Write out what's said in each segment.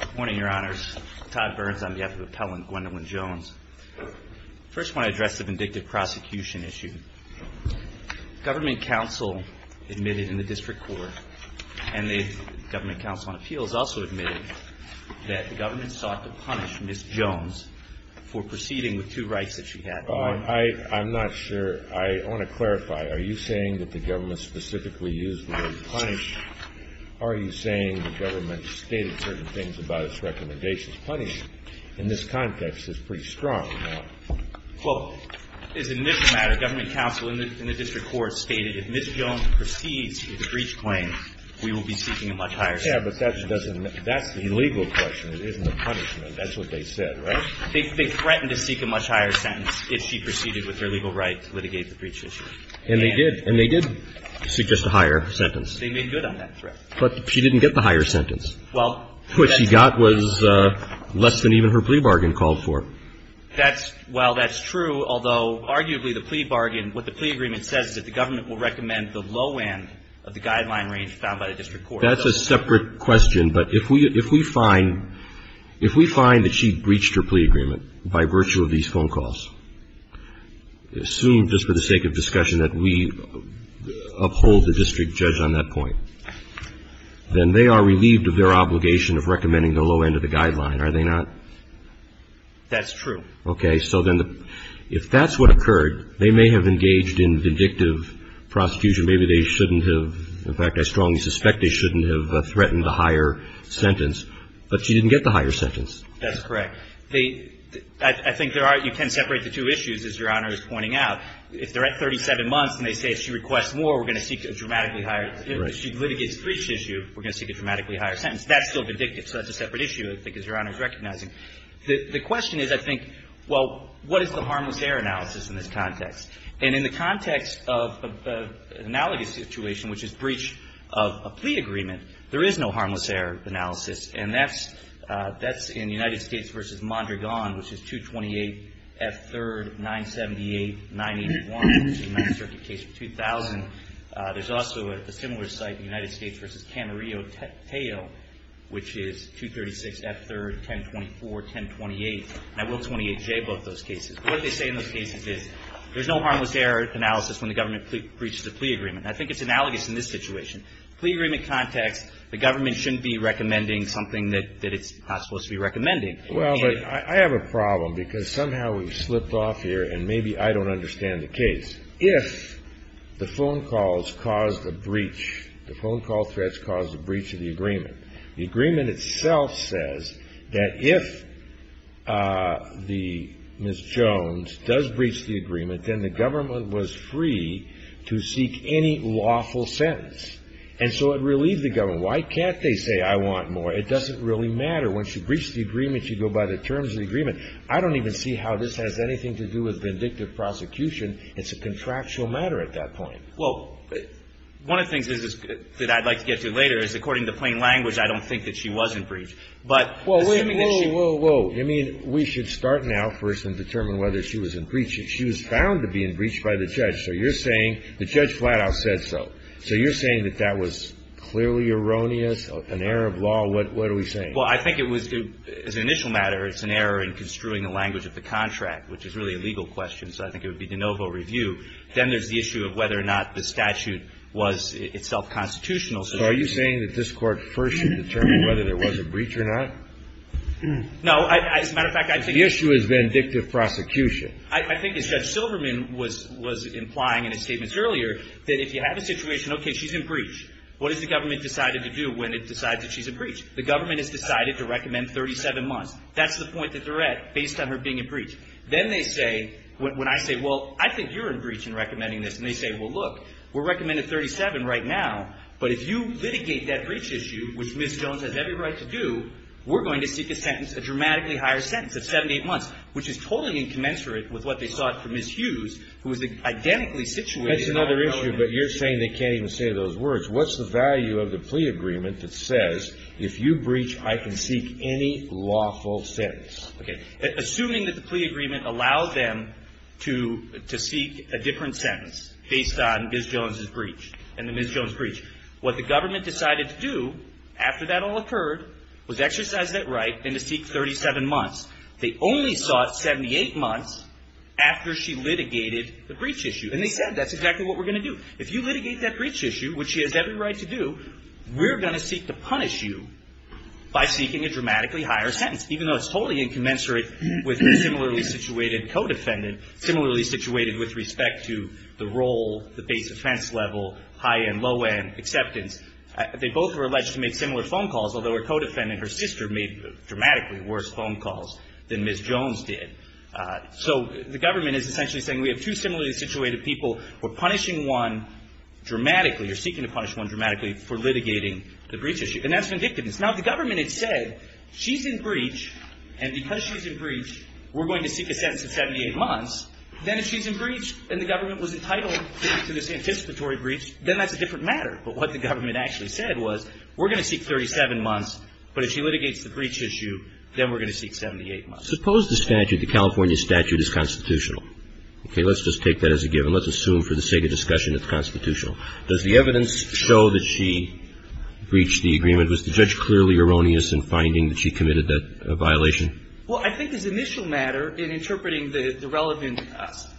Good morning, your honors. Todd Burns on behalf of Appellant Gwendolyn Jones. First I want to address the vindictive prosecution issue. Government counsel admitted in the district court and the government counsel on appeals also admitted that the government sought to punish Ms. Jones for proceeding with two rights that she had. I'm not sure. I want to clarify. Are you saying that the government specifically used the word punish? Are you saying the government stated certain things about its recommendations? Punish, in this context, is pretty strong. Well, as an initial matter, government counsel in the district court stated if Ms. Jones proceeds with a breach claim, we will be seeking a much higher sentence. Yeah, but that's the legal question. It isn't a punishment. That's what they said, right? They threatened to seek a much higher sentence if she proceeded with her legal right to litigate the breach issue. And they did. And they did suggest a higher sentence. They made good on that threat. But she didn't get the higher sentence. Well, that's true. What she got was less than even her plea bargain called for. That's – well, that's true, although arguably the plea bargain – what the plea agreement says is that the government will recommend the low end of the guideline range found by the district court. That's a separate question. But if we find – if we find that she breached her plea agreement by virtue of these phone calls, assume just for the sake of discussion that we uphold the district judge on that point, then they are relieved of their obligation of recommending the low end of the guideline, are they not? That's true. Okay. So then if that's what occurred, they may have engaged in vindictive prosecution. Maybe they shouldn't have – in fact, I strongly suspect they shouldn't have threatened a higher sentence. But she didn't get the higher sentence. That's correct. I think there are – you can separate the two issues, as Your Honor is pointing out. If they're at 37 months and they say if she requests more, we're going to seek a dramatically higher – if she litigates the breach issue, we're going to seek a dramatically higher sentence. That's still vindictive. So that's a separate issue, I think, as Your Honor is recognizing. The question is, I think, well, what is the harmless error analysis in this context? And in the context of the analogous situation, which is breach of a plea agreement, there is no harmless error analysis. And that's in United States v. Mondragon, which is 228F3rd.978.981, which is a Ninth Circuit case of 2000. There's also a similar site in United States v. Camarillo-Tejo, which is 236F3rd.1024.1028. And I will 28J both those cases. But what they say in those cases is there's no harmless error analysis when the government breaches a plea agreement. And I think it's analogous in this situation. In a plea agreement context, the government shouldn't be recommending something that it's not supposed to be recommending. Well, but I have a problem, because somehow we've slipped off here, and maybe I don't understand the case. If the phone calls caused a breach, the phone call threats caused a breach of the agreement, the agreement itself says that if the – Ms. Jones does breach the agreement, then the government was free to seek any lawful sentence. And so it relieved the government. Why can't they say, I want more? It doesn't really matter. When she breached the agreement, she'd go by the terms of the agreement. I don't even see how this has anything to do with vindictive prosecution. It's a contractual matter at that point. Well, one of the things that I'd like to get to later is, according to plain language, I don't think that she wasn't breached. But assuming that she – Whoa, whoa, whoa. You mean we should start now first and determine whether she was in breach? She was found to be in breach by the judge. So you're saying the judge flat out said so. So you're saying that that was clearly erroneous, an error of law? What are we saying? Well, I think it was – as an initial matter, it's an error in construing the language of the contract, which is really a legal question, so I think it would be de novo review. Then there's the issue of whether or not the statute was itself constitutional. So are you saying that this Court first should determine whether there was a breach or not? No. As a matter of fact, I think – The issue is vindictive prosecution. I think as Judge Silverman was implying in his statements earlier, that if you have a situation, okay, she's in breach, what has the government decided to do when it decides that she's in breach? The government has decided to recommend 37 months. That's the point that they're at based on her being in breach. Then they say – when I say, well, I think you're in breach in recommending this, and they say, well, look, we're recommending 37 right now, but if you litigate that breach issue, which Ms. Jones has every right to do, we're going to seek a sentence, a dramatically higher sentence of 7 to 8 months, which is totally incommensurate with what they sought from Ms. Hughes, who was identically situated on the government. That's another issue, but you're saying they can't even say those words. What's the value of the plea agreement that says if you breach, I can seek any lawful sentence? Okay. Assuming that the plea agreement allowed them to seek a different sentence based on Ms. Jones' breach. What the government decided to do after that all occurred was exercise that right and to seek 37 months. They only sought 78 months after she litigated the breach issue. And they said that's exactly what we're going to do. If you litigate that breach issue, which she has every right to do, we're going to seek to punish you by seeking a dramatically higher sentence, even though it's totally incommensurate with the similarly situated co-defendant, similarly situated with respect to the role, the base offense level, high-end, low-end acceptance. They both were alleged to make similar phone calls, although her co-defendant, her sister, made dramatically worse phone calls than Ms. Jones did. So the government is essentially saying we have two similarly situated people. We're punishing one dramatically. You're seeking to punish one dramatically for litigating the breach issue. And that's vindictiveness. Now, if the government had said she's in breach and because she's in breach, we're going to seek a sentence of 78 months, then if she's in breach and the government was entitled to this anticipatory breach, then that's a different matter. But what the government actually said was we're going to seek 37 months, but if she litigates the breach issue, then we're going to seek 78 months. Suppose the statute, the California statute, is constitutional. Okay. Let's just take that as a given. Let's assume for the sake of discussion it's constitutional. Does the evidence show that she breached the agreement? Was the judge clearly erroneous in finding that she committed that violation? Well, I think as an initial matter in interpreting the relevant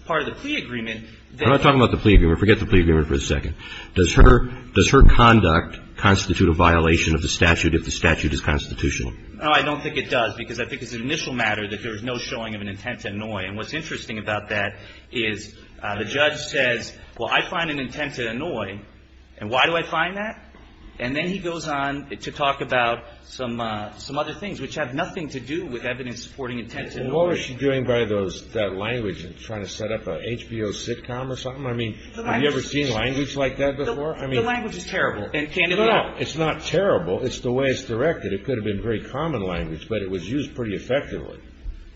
part of the plea agreement that we're going to talk about the plea agreement. Forget the plea agreement for a second. Does her conduct constitute a violation of the statute if the statute is constitutional? No, I don't think it does because I think it's an initial matter that there was no showing of an intent to annoy. And what's interesting about that is the judge says, well, I find an intent to annoy. And why do I find that? And then he goes on to talk about some other things, which have nothing to do with evidence supporting intent to annoy. Well, what was she doing by that language? Trying to set up an HBO sitcom or something? I mean, have you ever seen language like that before? The language is terrible. No, no. It's not terrible. It's the way it's directed. It could have been very common language, but it was used pretty effectively.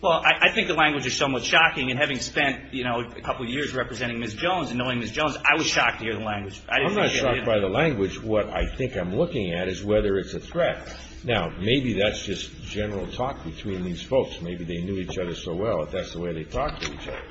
Well, I think the language is somewhat shocking. And having spent, you know, a couple of years representing Ms. Jones and knowing Ms. Jones, I was shocked to hear the language. I'm not shocked by the language. What I think I'm looking at is whether it's a threat. Now, maybe that's just general talk between these folks. Maybe they knew each other so well that that's the way they talked to each other.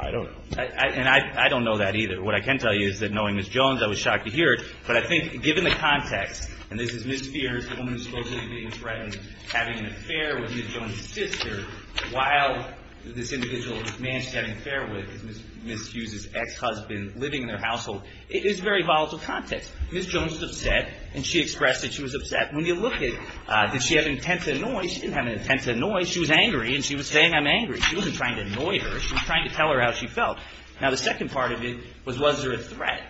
I don't know. And I don't know that either. What I can tell you is that knowing Ms. Jones, I was shocked to hear it. But I think given the context, and this is Ms. Fears, the woman who's supposedly being threatened, having an affair with Ms. Jones' sister while this individual is managed to have an affair with, Ms. Hughes' ex-husband, living in their household, it is very volatile context. Ms. Jones was upset, and she expressed that she was upset. When you look at, did she have an intent to annoy? She didn't have an intent to annoy. She was angry, and she was saying, I'm angry. She wasn't trying to annoy her. She was trying to tell her how she felt. Now, the second part of it was, was there a threat?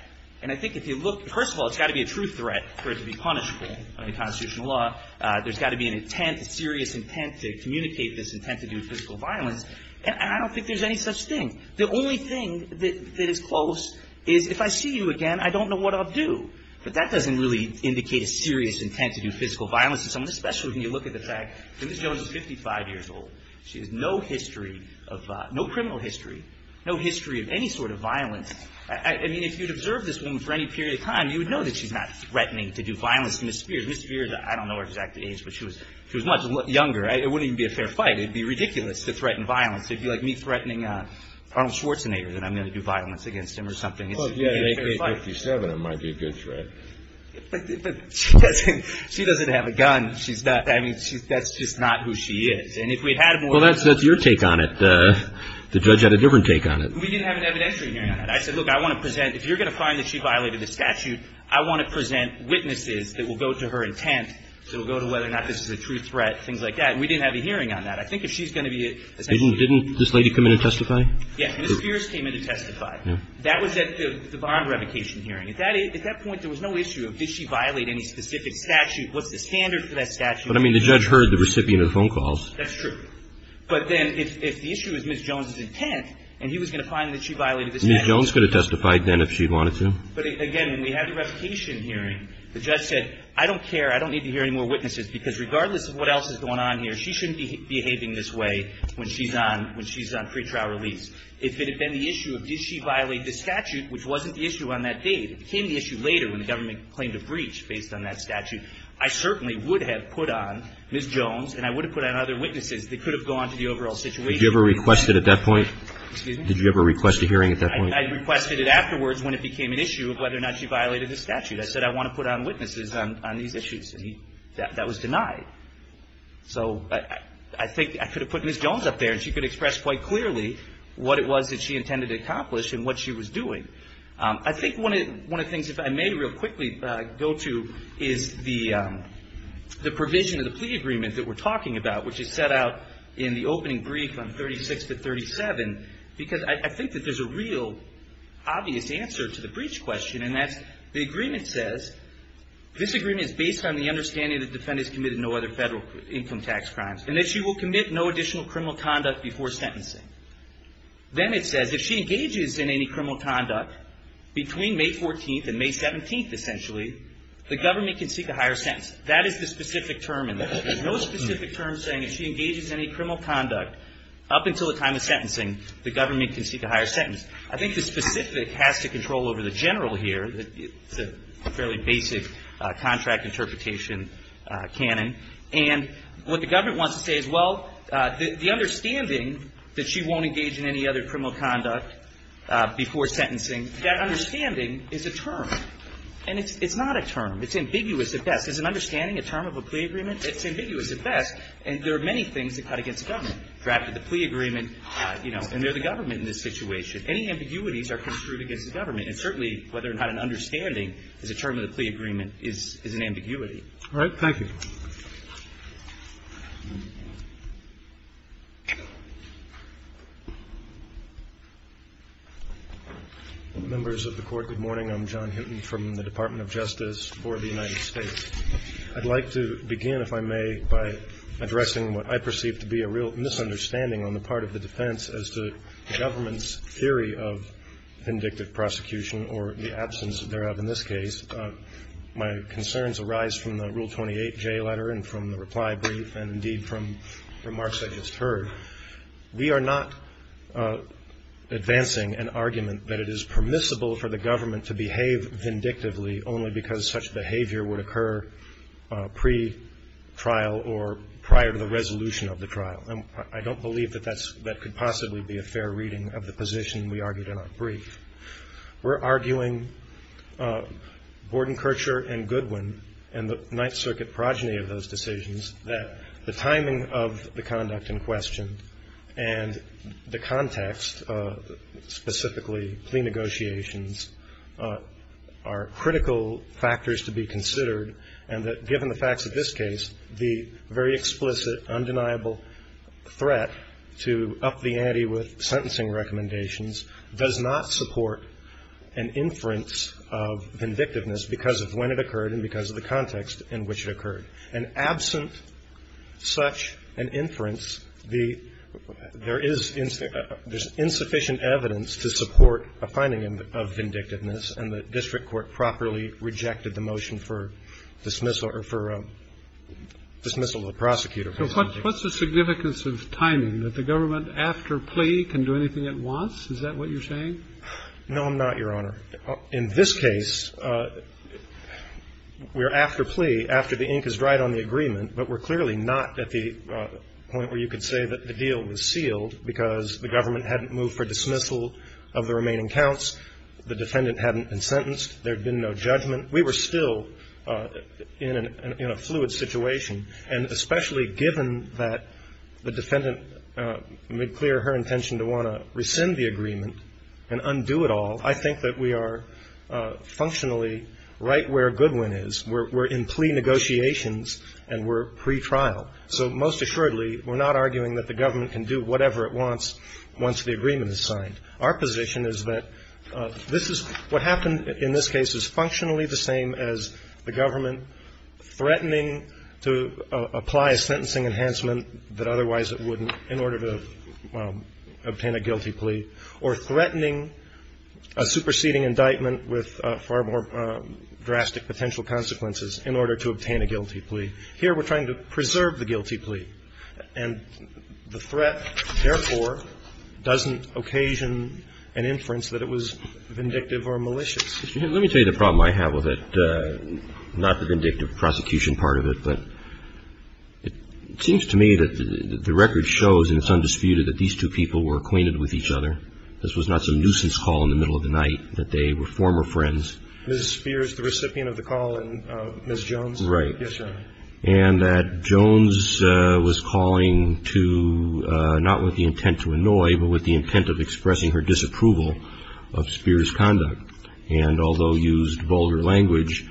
And I think if you look, first of all, it's got to be a true threat for it to be punishable under constitutional law. There's got to be an intent, a serious intent, to communicate this intent to do physical violence. And I don't think there's any such thing. The only thing that is close is, if I see you again, I don't know what I'll do. But that doesn't really indicate a serious intent to do physical violence to someone, especially when you look at the fact that Ms. Jones is 55 years old. She has no history of, no criminal history, no history of any sort of violence. I mean, if you'd observed this woman for any period of time, you would know that she's not threatening to do violence to Ms. Spears. Ms. Spears, I don't know her exact age, but she was much younger. It wouldn't even be a fair fight. It would be ridiculous to threaten violence. It would be like me threatening Arnold Schwarzenegger that I'm going to do violence against him or something. It would be a fair fight. Well, if you're 57, it might be a good threat. But she doesn't have a gun. She's not having – that's just not who she is. And if we had had more – Well, that's your take on it. The judge had a different take on it. We didn't have an evidentiary hearing on that. I said, look, I want to present – if you're going to find that she violated the statute, I want to present witnesses that will go to her intent. So it will go to whether or not this is a true threat, things like that. And we didn't have a hearing on that. I think if she's going to be – Didn't this lady come in and testify? Yes. Ms. Pierce came in to testify. That was at the bond revocation hearing. At that point, there was no issue of did she violate any specific statute, what's the standard for that statute. But, I mean, the judge heard the recipient of the phone calls. That's true. But then if the issue is Ms. Jones' intent and he was going to find that she violated the statute – Ms. Jones could have testified then if she wanted to. But, again, when we had the revocation hearing, the judge said, I don't care. I don't need to hear any more witnesses because regardless of what else is going on here, she shouldn't be behaving this way when she's on – when she's on pretrial release. If it had been the issue of did she violate the statute, which wasn't the issue on that date, it became the issue later when the government claimed a breach based on that statute, I certainly would have put on Ms. Jones and I would have put on other witnesses that could have gone to the overall situation. Did you ever request it at that point? Excuse me? Did you ever request a hearing at that point? I requested it afterwards when it became an issue of whether or not she violated the statute. I said I want to put on witnesses on these issues. And that was denied. So I think I could have put Ms. Jones up there and she could express quite clearly what it was that she intended to accomplish and what she was doing. I think one of the things, if I may real quickly go to, is the provision of the plea agreement that we're talking about, which is set out in the opening brief on 36 to 37, because I think that there's a real obvious answer to the breach question, and that's the agreement says, this agreement is based on the understanding that the defendant has committed no other federal income tax crimes and that she will commit no additional criminal conduct before sentencing. Then it says if she engages in any criminal conduct between May 14th and May 17th, essentially, the government can seek a higher sentence. That is the specific term in there. There's no specific term saying if she engages in any criminal conduct up until the time of sentencing, the government can seek a higher sentence. I think the specific has to control over the general here. It's a fairly basic contract interpretation canon, and what the government wants to say is, well, the understanding that she won't engage in any other criminal conduct before sentencing, that understanding is a term, and it's not a term. It's ambiguous at best. Is an understanding a term of a plea agreement? It's ambiguous at best, and there are many things that cut against government. Drafted the plea agreement, and they're the government in this situation. Any ambiguities are construed against the government, and certainly whether or not an understanding is a term of the plea agreement is an ambiguity. All right. Thank you. Members of the Court, good morning. I'm John Hinton from the Department of Justice for the United States. I'd like to begin, if I may, by addressing what I perceive to be a real misunderstanding on the part of the defense as to the government's theory of vindictive prosecution or the absence thereof in this case. My concerns arise from the Rule 28J letter and from the reply brief, and indeed from remarks I just heard. We are not advancing an argument that it is permissible for the government to behave vindictively only because such behavior would occur pre-trial or prior to the resolution of the trial. I don't believe that that could possibly be a fair reading of the position we argued in our brief. We're arguing, Borden, Kircher, and Goodwin, and the Ninth Circuit progeny of those decisions, that the timing of the conduct in question and the context, specifically plea negotiations, are critical factors to be considered, and that given the facts of this case, the very explicit, undeniable threat to up the ante with sentencing recommendations does not support an inference of vindictiveness because of when it occurred and because of the context in which it occurred. And absent such an inference, there is insufficient evidence to support a finding of vindictiveness, and the district court properly rejected the motion for dismissal or for dismissal of the prosecutor. So what's the significance of timing? That the government, after plea, can do anything it wants? Is that what you're saying? No, I'm not, Your Honor. In this case, we're after plea, after the ink has dried on the agreement, but we're clearly not at the point where you could say that the deal was sealed because the government hadn't moved for dismissal of the remaining counts. The defendant hadn't been sentenced. There had been no judgment. We were still in a fluid situation, and especially given that the defendant made clear her intention to want to rescind the agreement and undo it all, I think that we are functionally right where Goodwin is. We're in plea negotiations, and we're pretrial. So most assuredly, we're not arguing that the government can do whatever it wants once the agreement is signed. Our position is that this is what happened in this case is functionally the same as the government threatening to apply a sentencing enhancement that otherwise it wouldn't in order to obtain a guilty plea or threatening a superseding indictment with far more drastic potential consequences in order to obtain a guilty plea. Here, we're trying to preserve the guilty plea. And the threat, therefore, doesn't occasion an inference that it was vindictive or malicious. Let me tell you the problem I have with it, not the vindictive prosecution part of it, but it seems to me that the record shows, and it's undisputed, that these two people were acquainted with each other. This was not some nuisance call in the middle of the night, that they were former friends. Ms. Spears, the recipient of the call, and Ms. Jones? Right. Yes, Your Honor. And that Jones was calling to, not with the intent to annoy, but with the intent of expressing her disapproval of Spears' conduct. And although used vulgar language,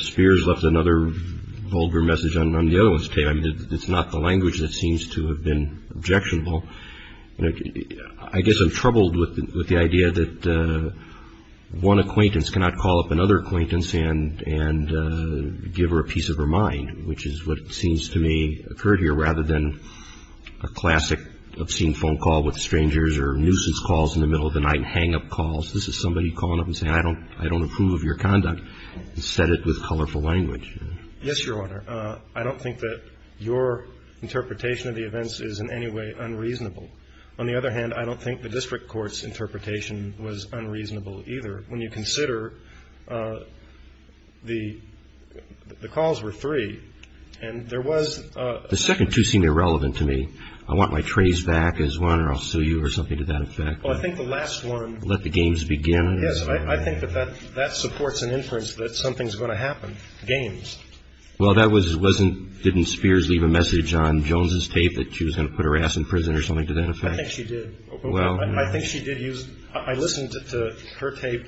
Spears left another vulgar message on the other one's tape. I mean, it's not the language that seems to have been objectionable. I guess I'm troubled with the idea that one acquaintance cannot call up another acquaintance and give her a piece of her mind, which is what seems to me occurred here, rather than a classic obscene phone call with strangers or nuisance calls in the middle of the night, hang-up calls. This is somebody calling up and saying, I don't approve of your conduct, and said it with colorful language. Yes, Your Honor. I don't think that your interpretation of the events is in any way unreasonable. On the other hand, I don't think the district court's interpretation was unreasonable either, when you consider the calls were three, and there was a... The second two seemed irrelevant to me. I want my trays back as one, or I'll sue you or something to that effect. Well, I think the last one... Let the games begin. Yes, I think that that supports an inference that something's going to happen. Games. Well, that wasn't... Didn't Spears leave a message on Jones' tape that she was going to put her ass in prison or something to that effect? I think she did. Well... I think she did use... I listened to her tape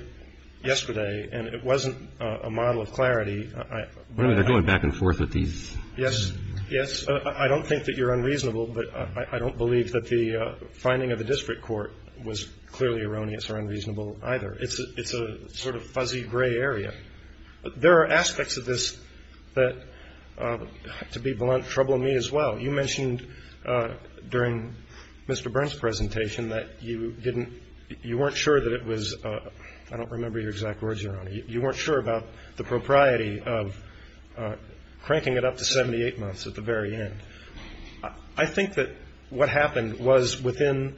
yesterday, and it wasn't a model of clarity. They're going back and forth with these... Yes. Yes. I don't think that you're unreasonable, but I don't believe that the finding of the district court was clearly erroneous or unreasonable either. It's a sort of fuzzy gray area. There are aspects of this that, to be blunt, trouble me as well. You mentioned during Mr. Burns' presentation that you weren't sure that it was... I don't remember your exact words, Your Honor. You weren't sure about the propriety of cranking it up to 78 months at the very end. I think that what happened was within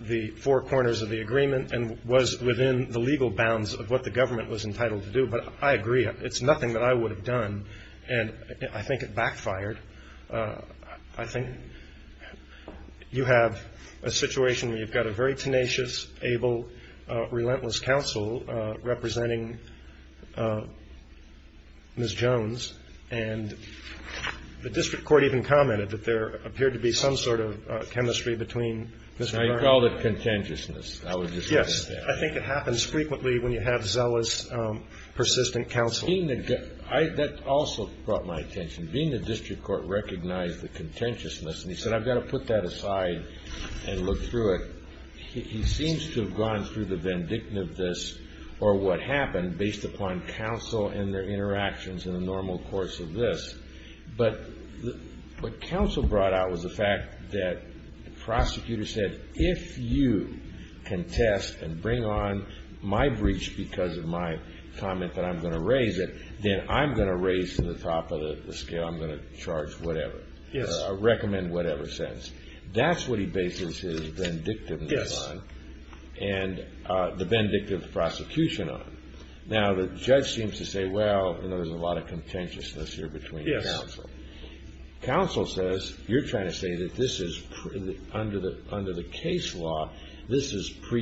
the four corners of the agreement and was within the legal bounds of what the government was entitled to do, but I agree. It's nothing that I would have done, and I think it backfired. I think you have a situation where you've got a very tenacious, able, relentless counsel representing Ms. Jones, and the district court even commented that there appeared to be some sort of chemistry between... I called it contentiousness. Yes. I think it happens frequently when you have zealous, persistent counsel. That also brought my attention. Being the district court recognized the contentiousness, and he said, I've got to put that aside and look through it. He seems to have gone through the vindictiveness or what happened based upon counsel and their interactions in the normal course of this. But what counsel brought out was the fact that the prosecutor said, if you contest and bring on my breach because of my comment that I'm going to raise it, then I'm going to raise to the top of the scale, I'm going to charge whatever, recommend whatever sentence. That's what he bases his vindictiveness on and the vindictive prosecution on. Now, the judge seems to say, well, there's a lot of contentiousness here between counsel. Counsel says, you're trying to say that this is under the case law, but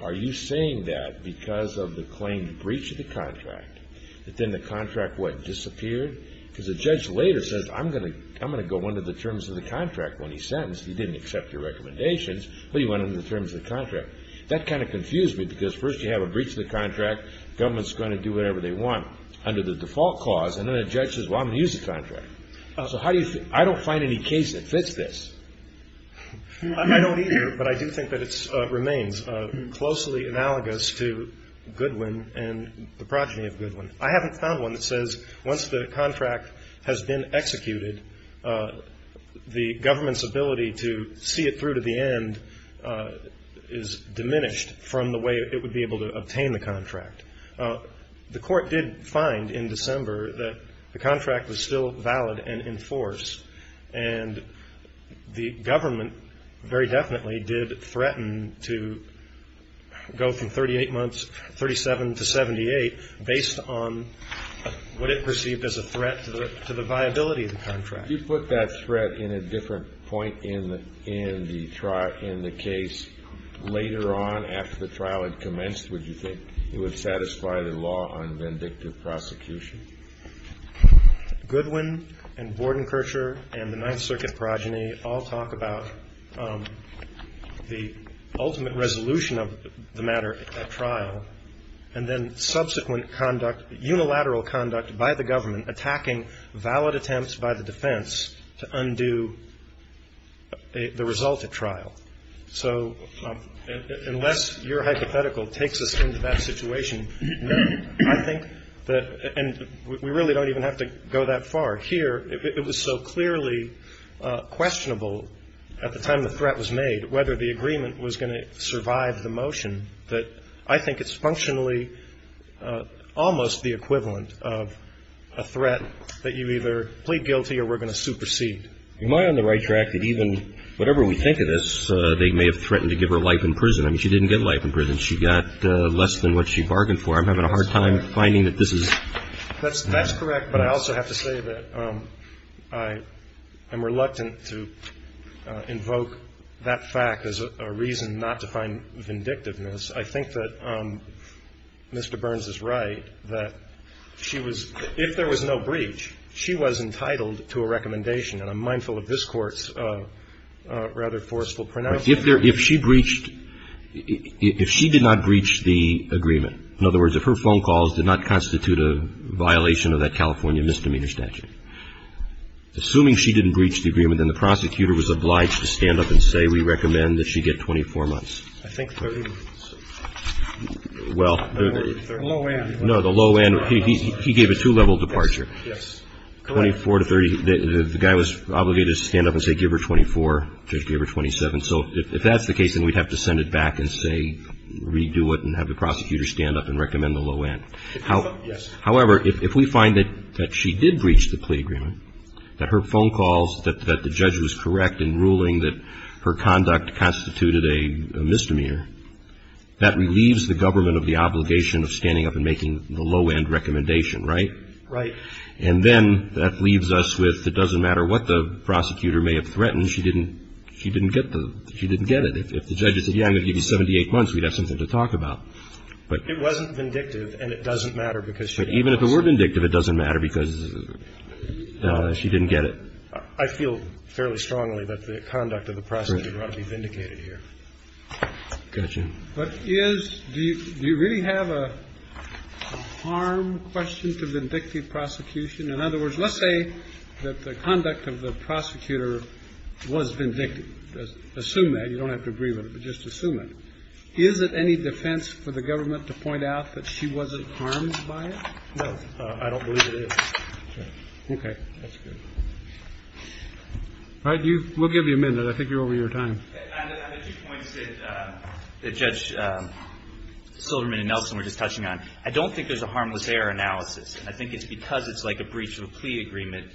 are you saying that because of the claimed breach of the contract, that then the contract, what, disappeared? Because the judge later says, I'm going to go under the terms of the contract. When he's sentenced, he didn't accept your recommendations, but he went under the terms of the contract. That kind of confused me because first you have a breach of the contract, government's going to do whatever they want under the default clause, and then a judge says, well, I'm going to use the contract. So how do you feel? I don't find any case that fits this. I don't either, but I do think that it remains closely analogous to Goodwin and the progeny of Goodwin. I haven't found one that says once the contract has been executed, the government's ability to see it through to the end is diminished from the way it would be able to obtain the contract. The court did find in December that the contract was still valid and in force, and the government very definitely did threaten to go from 38 months, 37 to 78, based on what it perceived as a threat to the viability of the contract. If you put that threat in a different point in the trial, in the case later on after the trial had commenced, would you think it would satisfy the law on vindictive prosecution? Goodwin and Bordenkircher and the Ninth Circuit progeny all talk about the ultimate resolution of the matter at trial, and then subsequent conduct, unilateral conduct by the government attacking valid attempts by the defense to undo the result of trial. So unless your hypothetical takes us into that situation, I think that, and we really don't even have to go that far here, it was so clearly questionable at the time the threat was made whether the agreement was going to survive the motion that I think it's functionally almost the equivalent of a threat that you either plead guilty or we're going to supersede. Am I on the right track that even whatever we think of this, they may have threatened to give her life in prison? I mean, she didn't get life in prison. She got less than what she bargained for. I'm having a hard time finding that this is. That's correct. But I also have to say that I am reluctant to invoke that fact as a reason not to find vindictiveness. I think that Mr. Burns is right that she was, if there was no breach, she was entitled to a recommendation. And I'm mindful of this Court's rather forceful pronouncement. I think that the law is, if her phone calls did not constitute a violation of that California misdemeanor statute, assuming she didn't breach the agreement, then the prosecutor was obliged to stand up and say we recommend that she get 24 months. I think 30. Well. The low end. No, the low end. He gave a two-level departure. Yes. Correct. 24 to 30, the guy was obligated to stand up and say give her 24, Judge gave her 27. So if that's the case, then we'd have to send it back and say redo it and have the prosecutor stand up and recommend the low end. However, if we find that she did breach the plea agreement, that her phone calls, that the judge was correct in ruling that her conduct constituted a misdemeanor, that relieves the government of the obligation of standing up and making the low end recommendation, right? Right. And then that leaves us with it doesn't matter what the prosecutor may have threatened, she didn't get the, she didn't get it. If the judge had said, yeah, I'm going to give you 78 months, we'd have something to talk about. It wasn't vindictive and it doesn't matter because she didn't get it. Even if it were vindictive, it doesn't matter because she didn't get it. I feel fairly strongly that the conduct of the prosecutor ought to be vindicated here. Gotcha. But is, do you really have a harm question to vindictive prosecution? In other words, let's say that the conduct of the prosecutor was vindictive. Assume that. You don't have to agree with it, but just assume it. Is it any defense for the government to point out that she wasn't harmed by it? No. I don't believe it is. Okay. That's good. All right. We'll give you a minute. I think you're over your time. I have two points that Judge Silverman and Nelson were just touching on. I don't think there's a harmless error analysis. And I think it's because it's like a breach of a plea agreement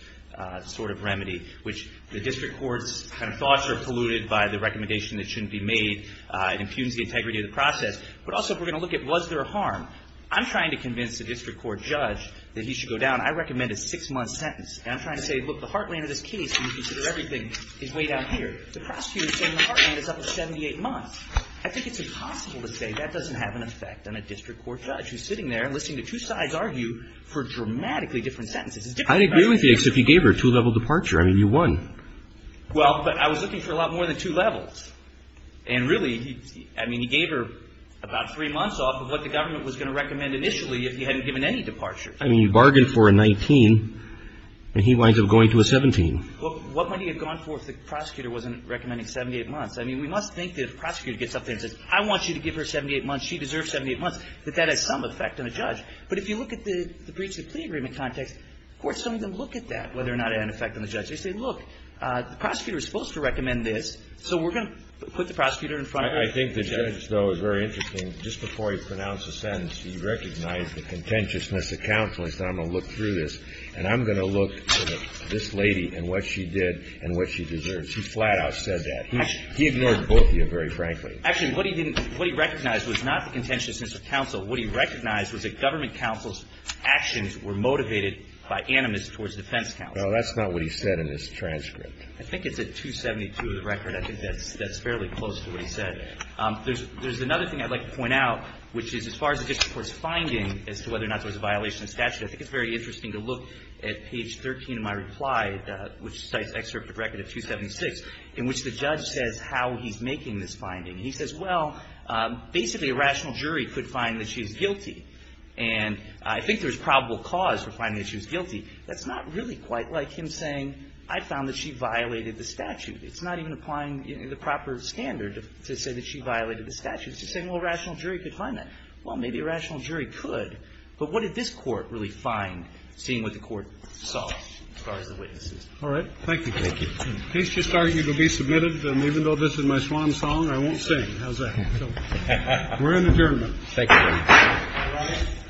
sort of remedy, which the district court's kind of thoughts are polluted by the recommendation that shouldn't be made. It impugns the integrity of the process. But also, if we're going to look at was there a harm, I'm trying to convince the district court judge that he should go down. I recommend a six-month sentence. And I'm trying to say, look, the heartland of this case, when you consider everything, is way down here. The prosecutor is saying the heartland is up to 78 months. I think it's impossible to say that doesn't have an effect on a district court judge who's sitting there and listening to two sides argue for dramatically different sentences. I'd agree with you except you gave her a two-level departure. I mean, you won. Well, but I was looking for a lot more than two levels. And really, I mean, he gave her about three months off of what the government was going to recommend initially if he hadn't given any departure. I mean, you bargained for a 19, and he winds up going to a 17. Well, what might he have gone for if the prosecutor wasn't recommending 78 months? I mean, we must think that if the prosecutor gets up there and says, I want you to give her 78 months, she deserves 78 months, that that has some effect on the judge. But if you look at the breach of the plea agreement context, courts don't even look at that, whether or not it had an effect on the judge. They say, look, the prosecutor is supposed to recommend this, so we're going to put the prosecutor in front of the judge. I think the judge, though, is very interesting. Just before he pronounced the sentence, he recognized the contentiousness of counsel. He said, I'm going to look through this, and I'm going to look at this lady and what she did and what she deserves. He flat-out said that. He ignored both of you, very frankly. Actually, what he recognized was not the contentiousness of counsel. What he recognized was that government counsel's actions were motivated by animus towards defense counsel. No, that's not what he said in his transcript. I think it's at 272 of the record. I think that's fairly close to what he said. There's another thing I'd like to point out, which is as far as the district court's finding as to whether or not there was a violation of statute, I think it's very interesting to look at page 13 of my reply, which cites excerpt of record at 276, in which the judge says how he's making this finding. He says, well, basically, a rational jury could find that she's guilty. And I think there's probable cause for finding that she was guilty. That's not really quite like him saying, I found that she violated the statute. It's not even applying the proper standard to say that she violated the statute. It's just saying, well, a rational jury could find that. Well, maybe a rational jury could, but what did this court really find, seeing what the court saw as far as the witnesses? All right. Thank you. Thank you. Please just start. You will be submitted. And even though this is my swan song, I won't sing. How's that? We're in adjournment. Thank you.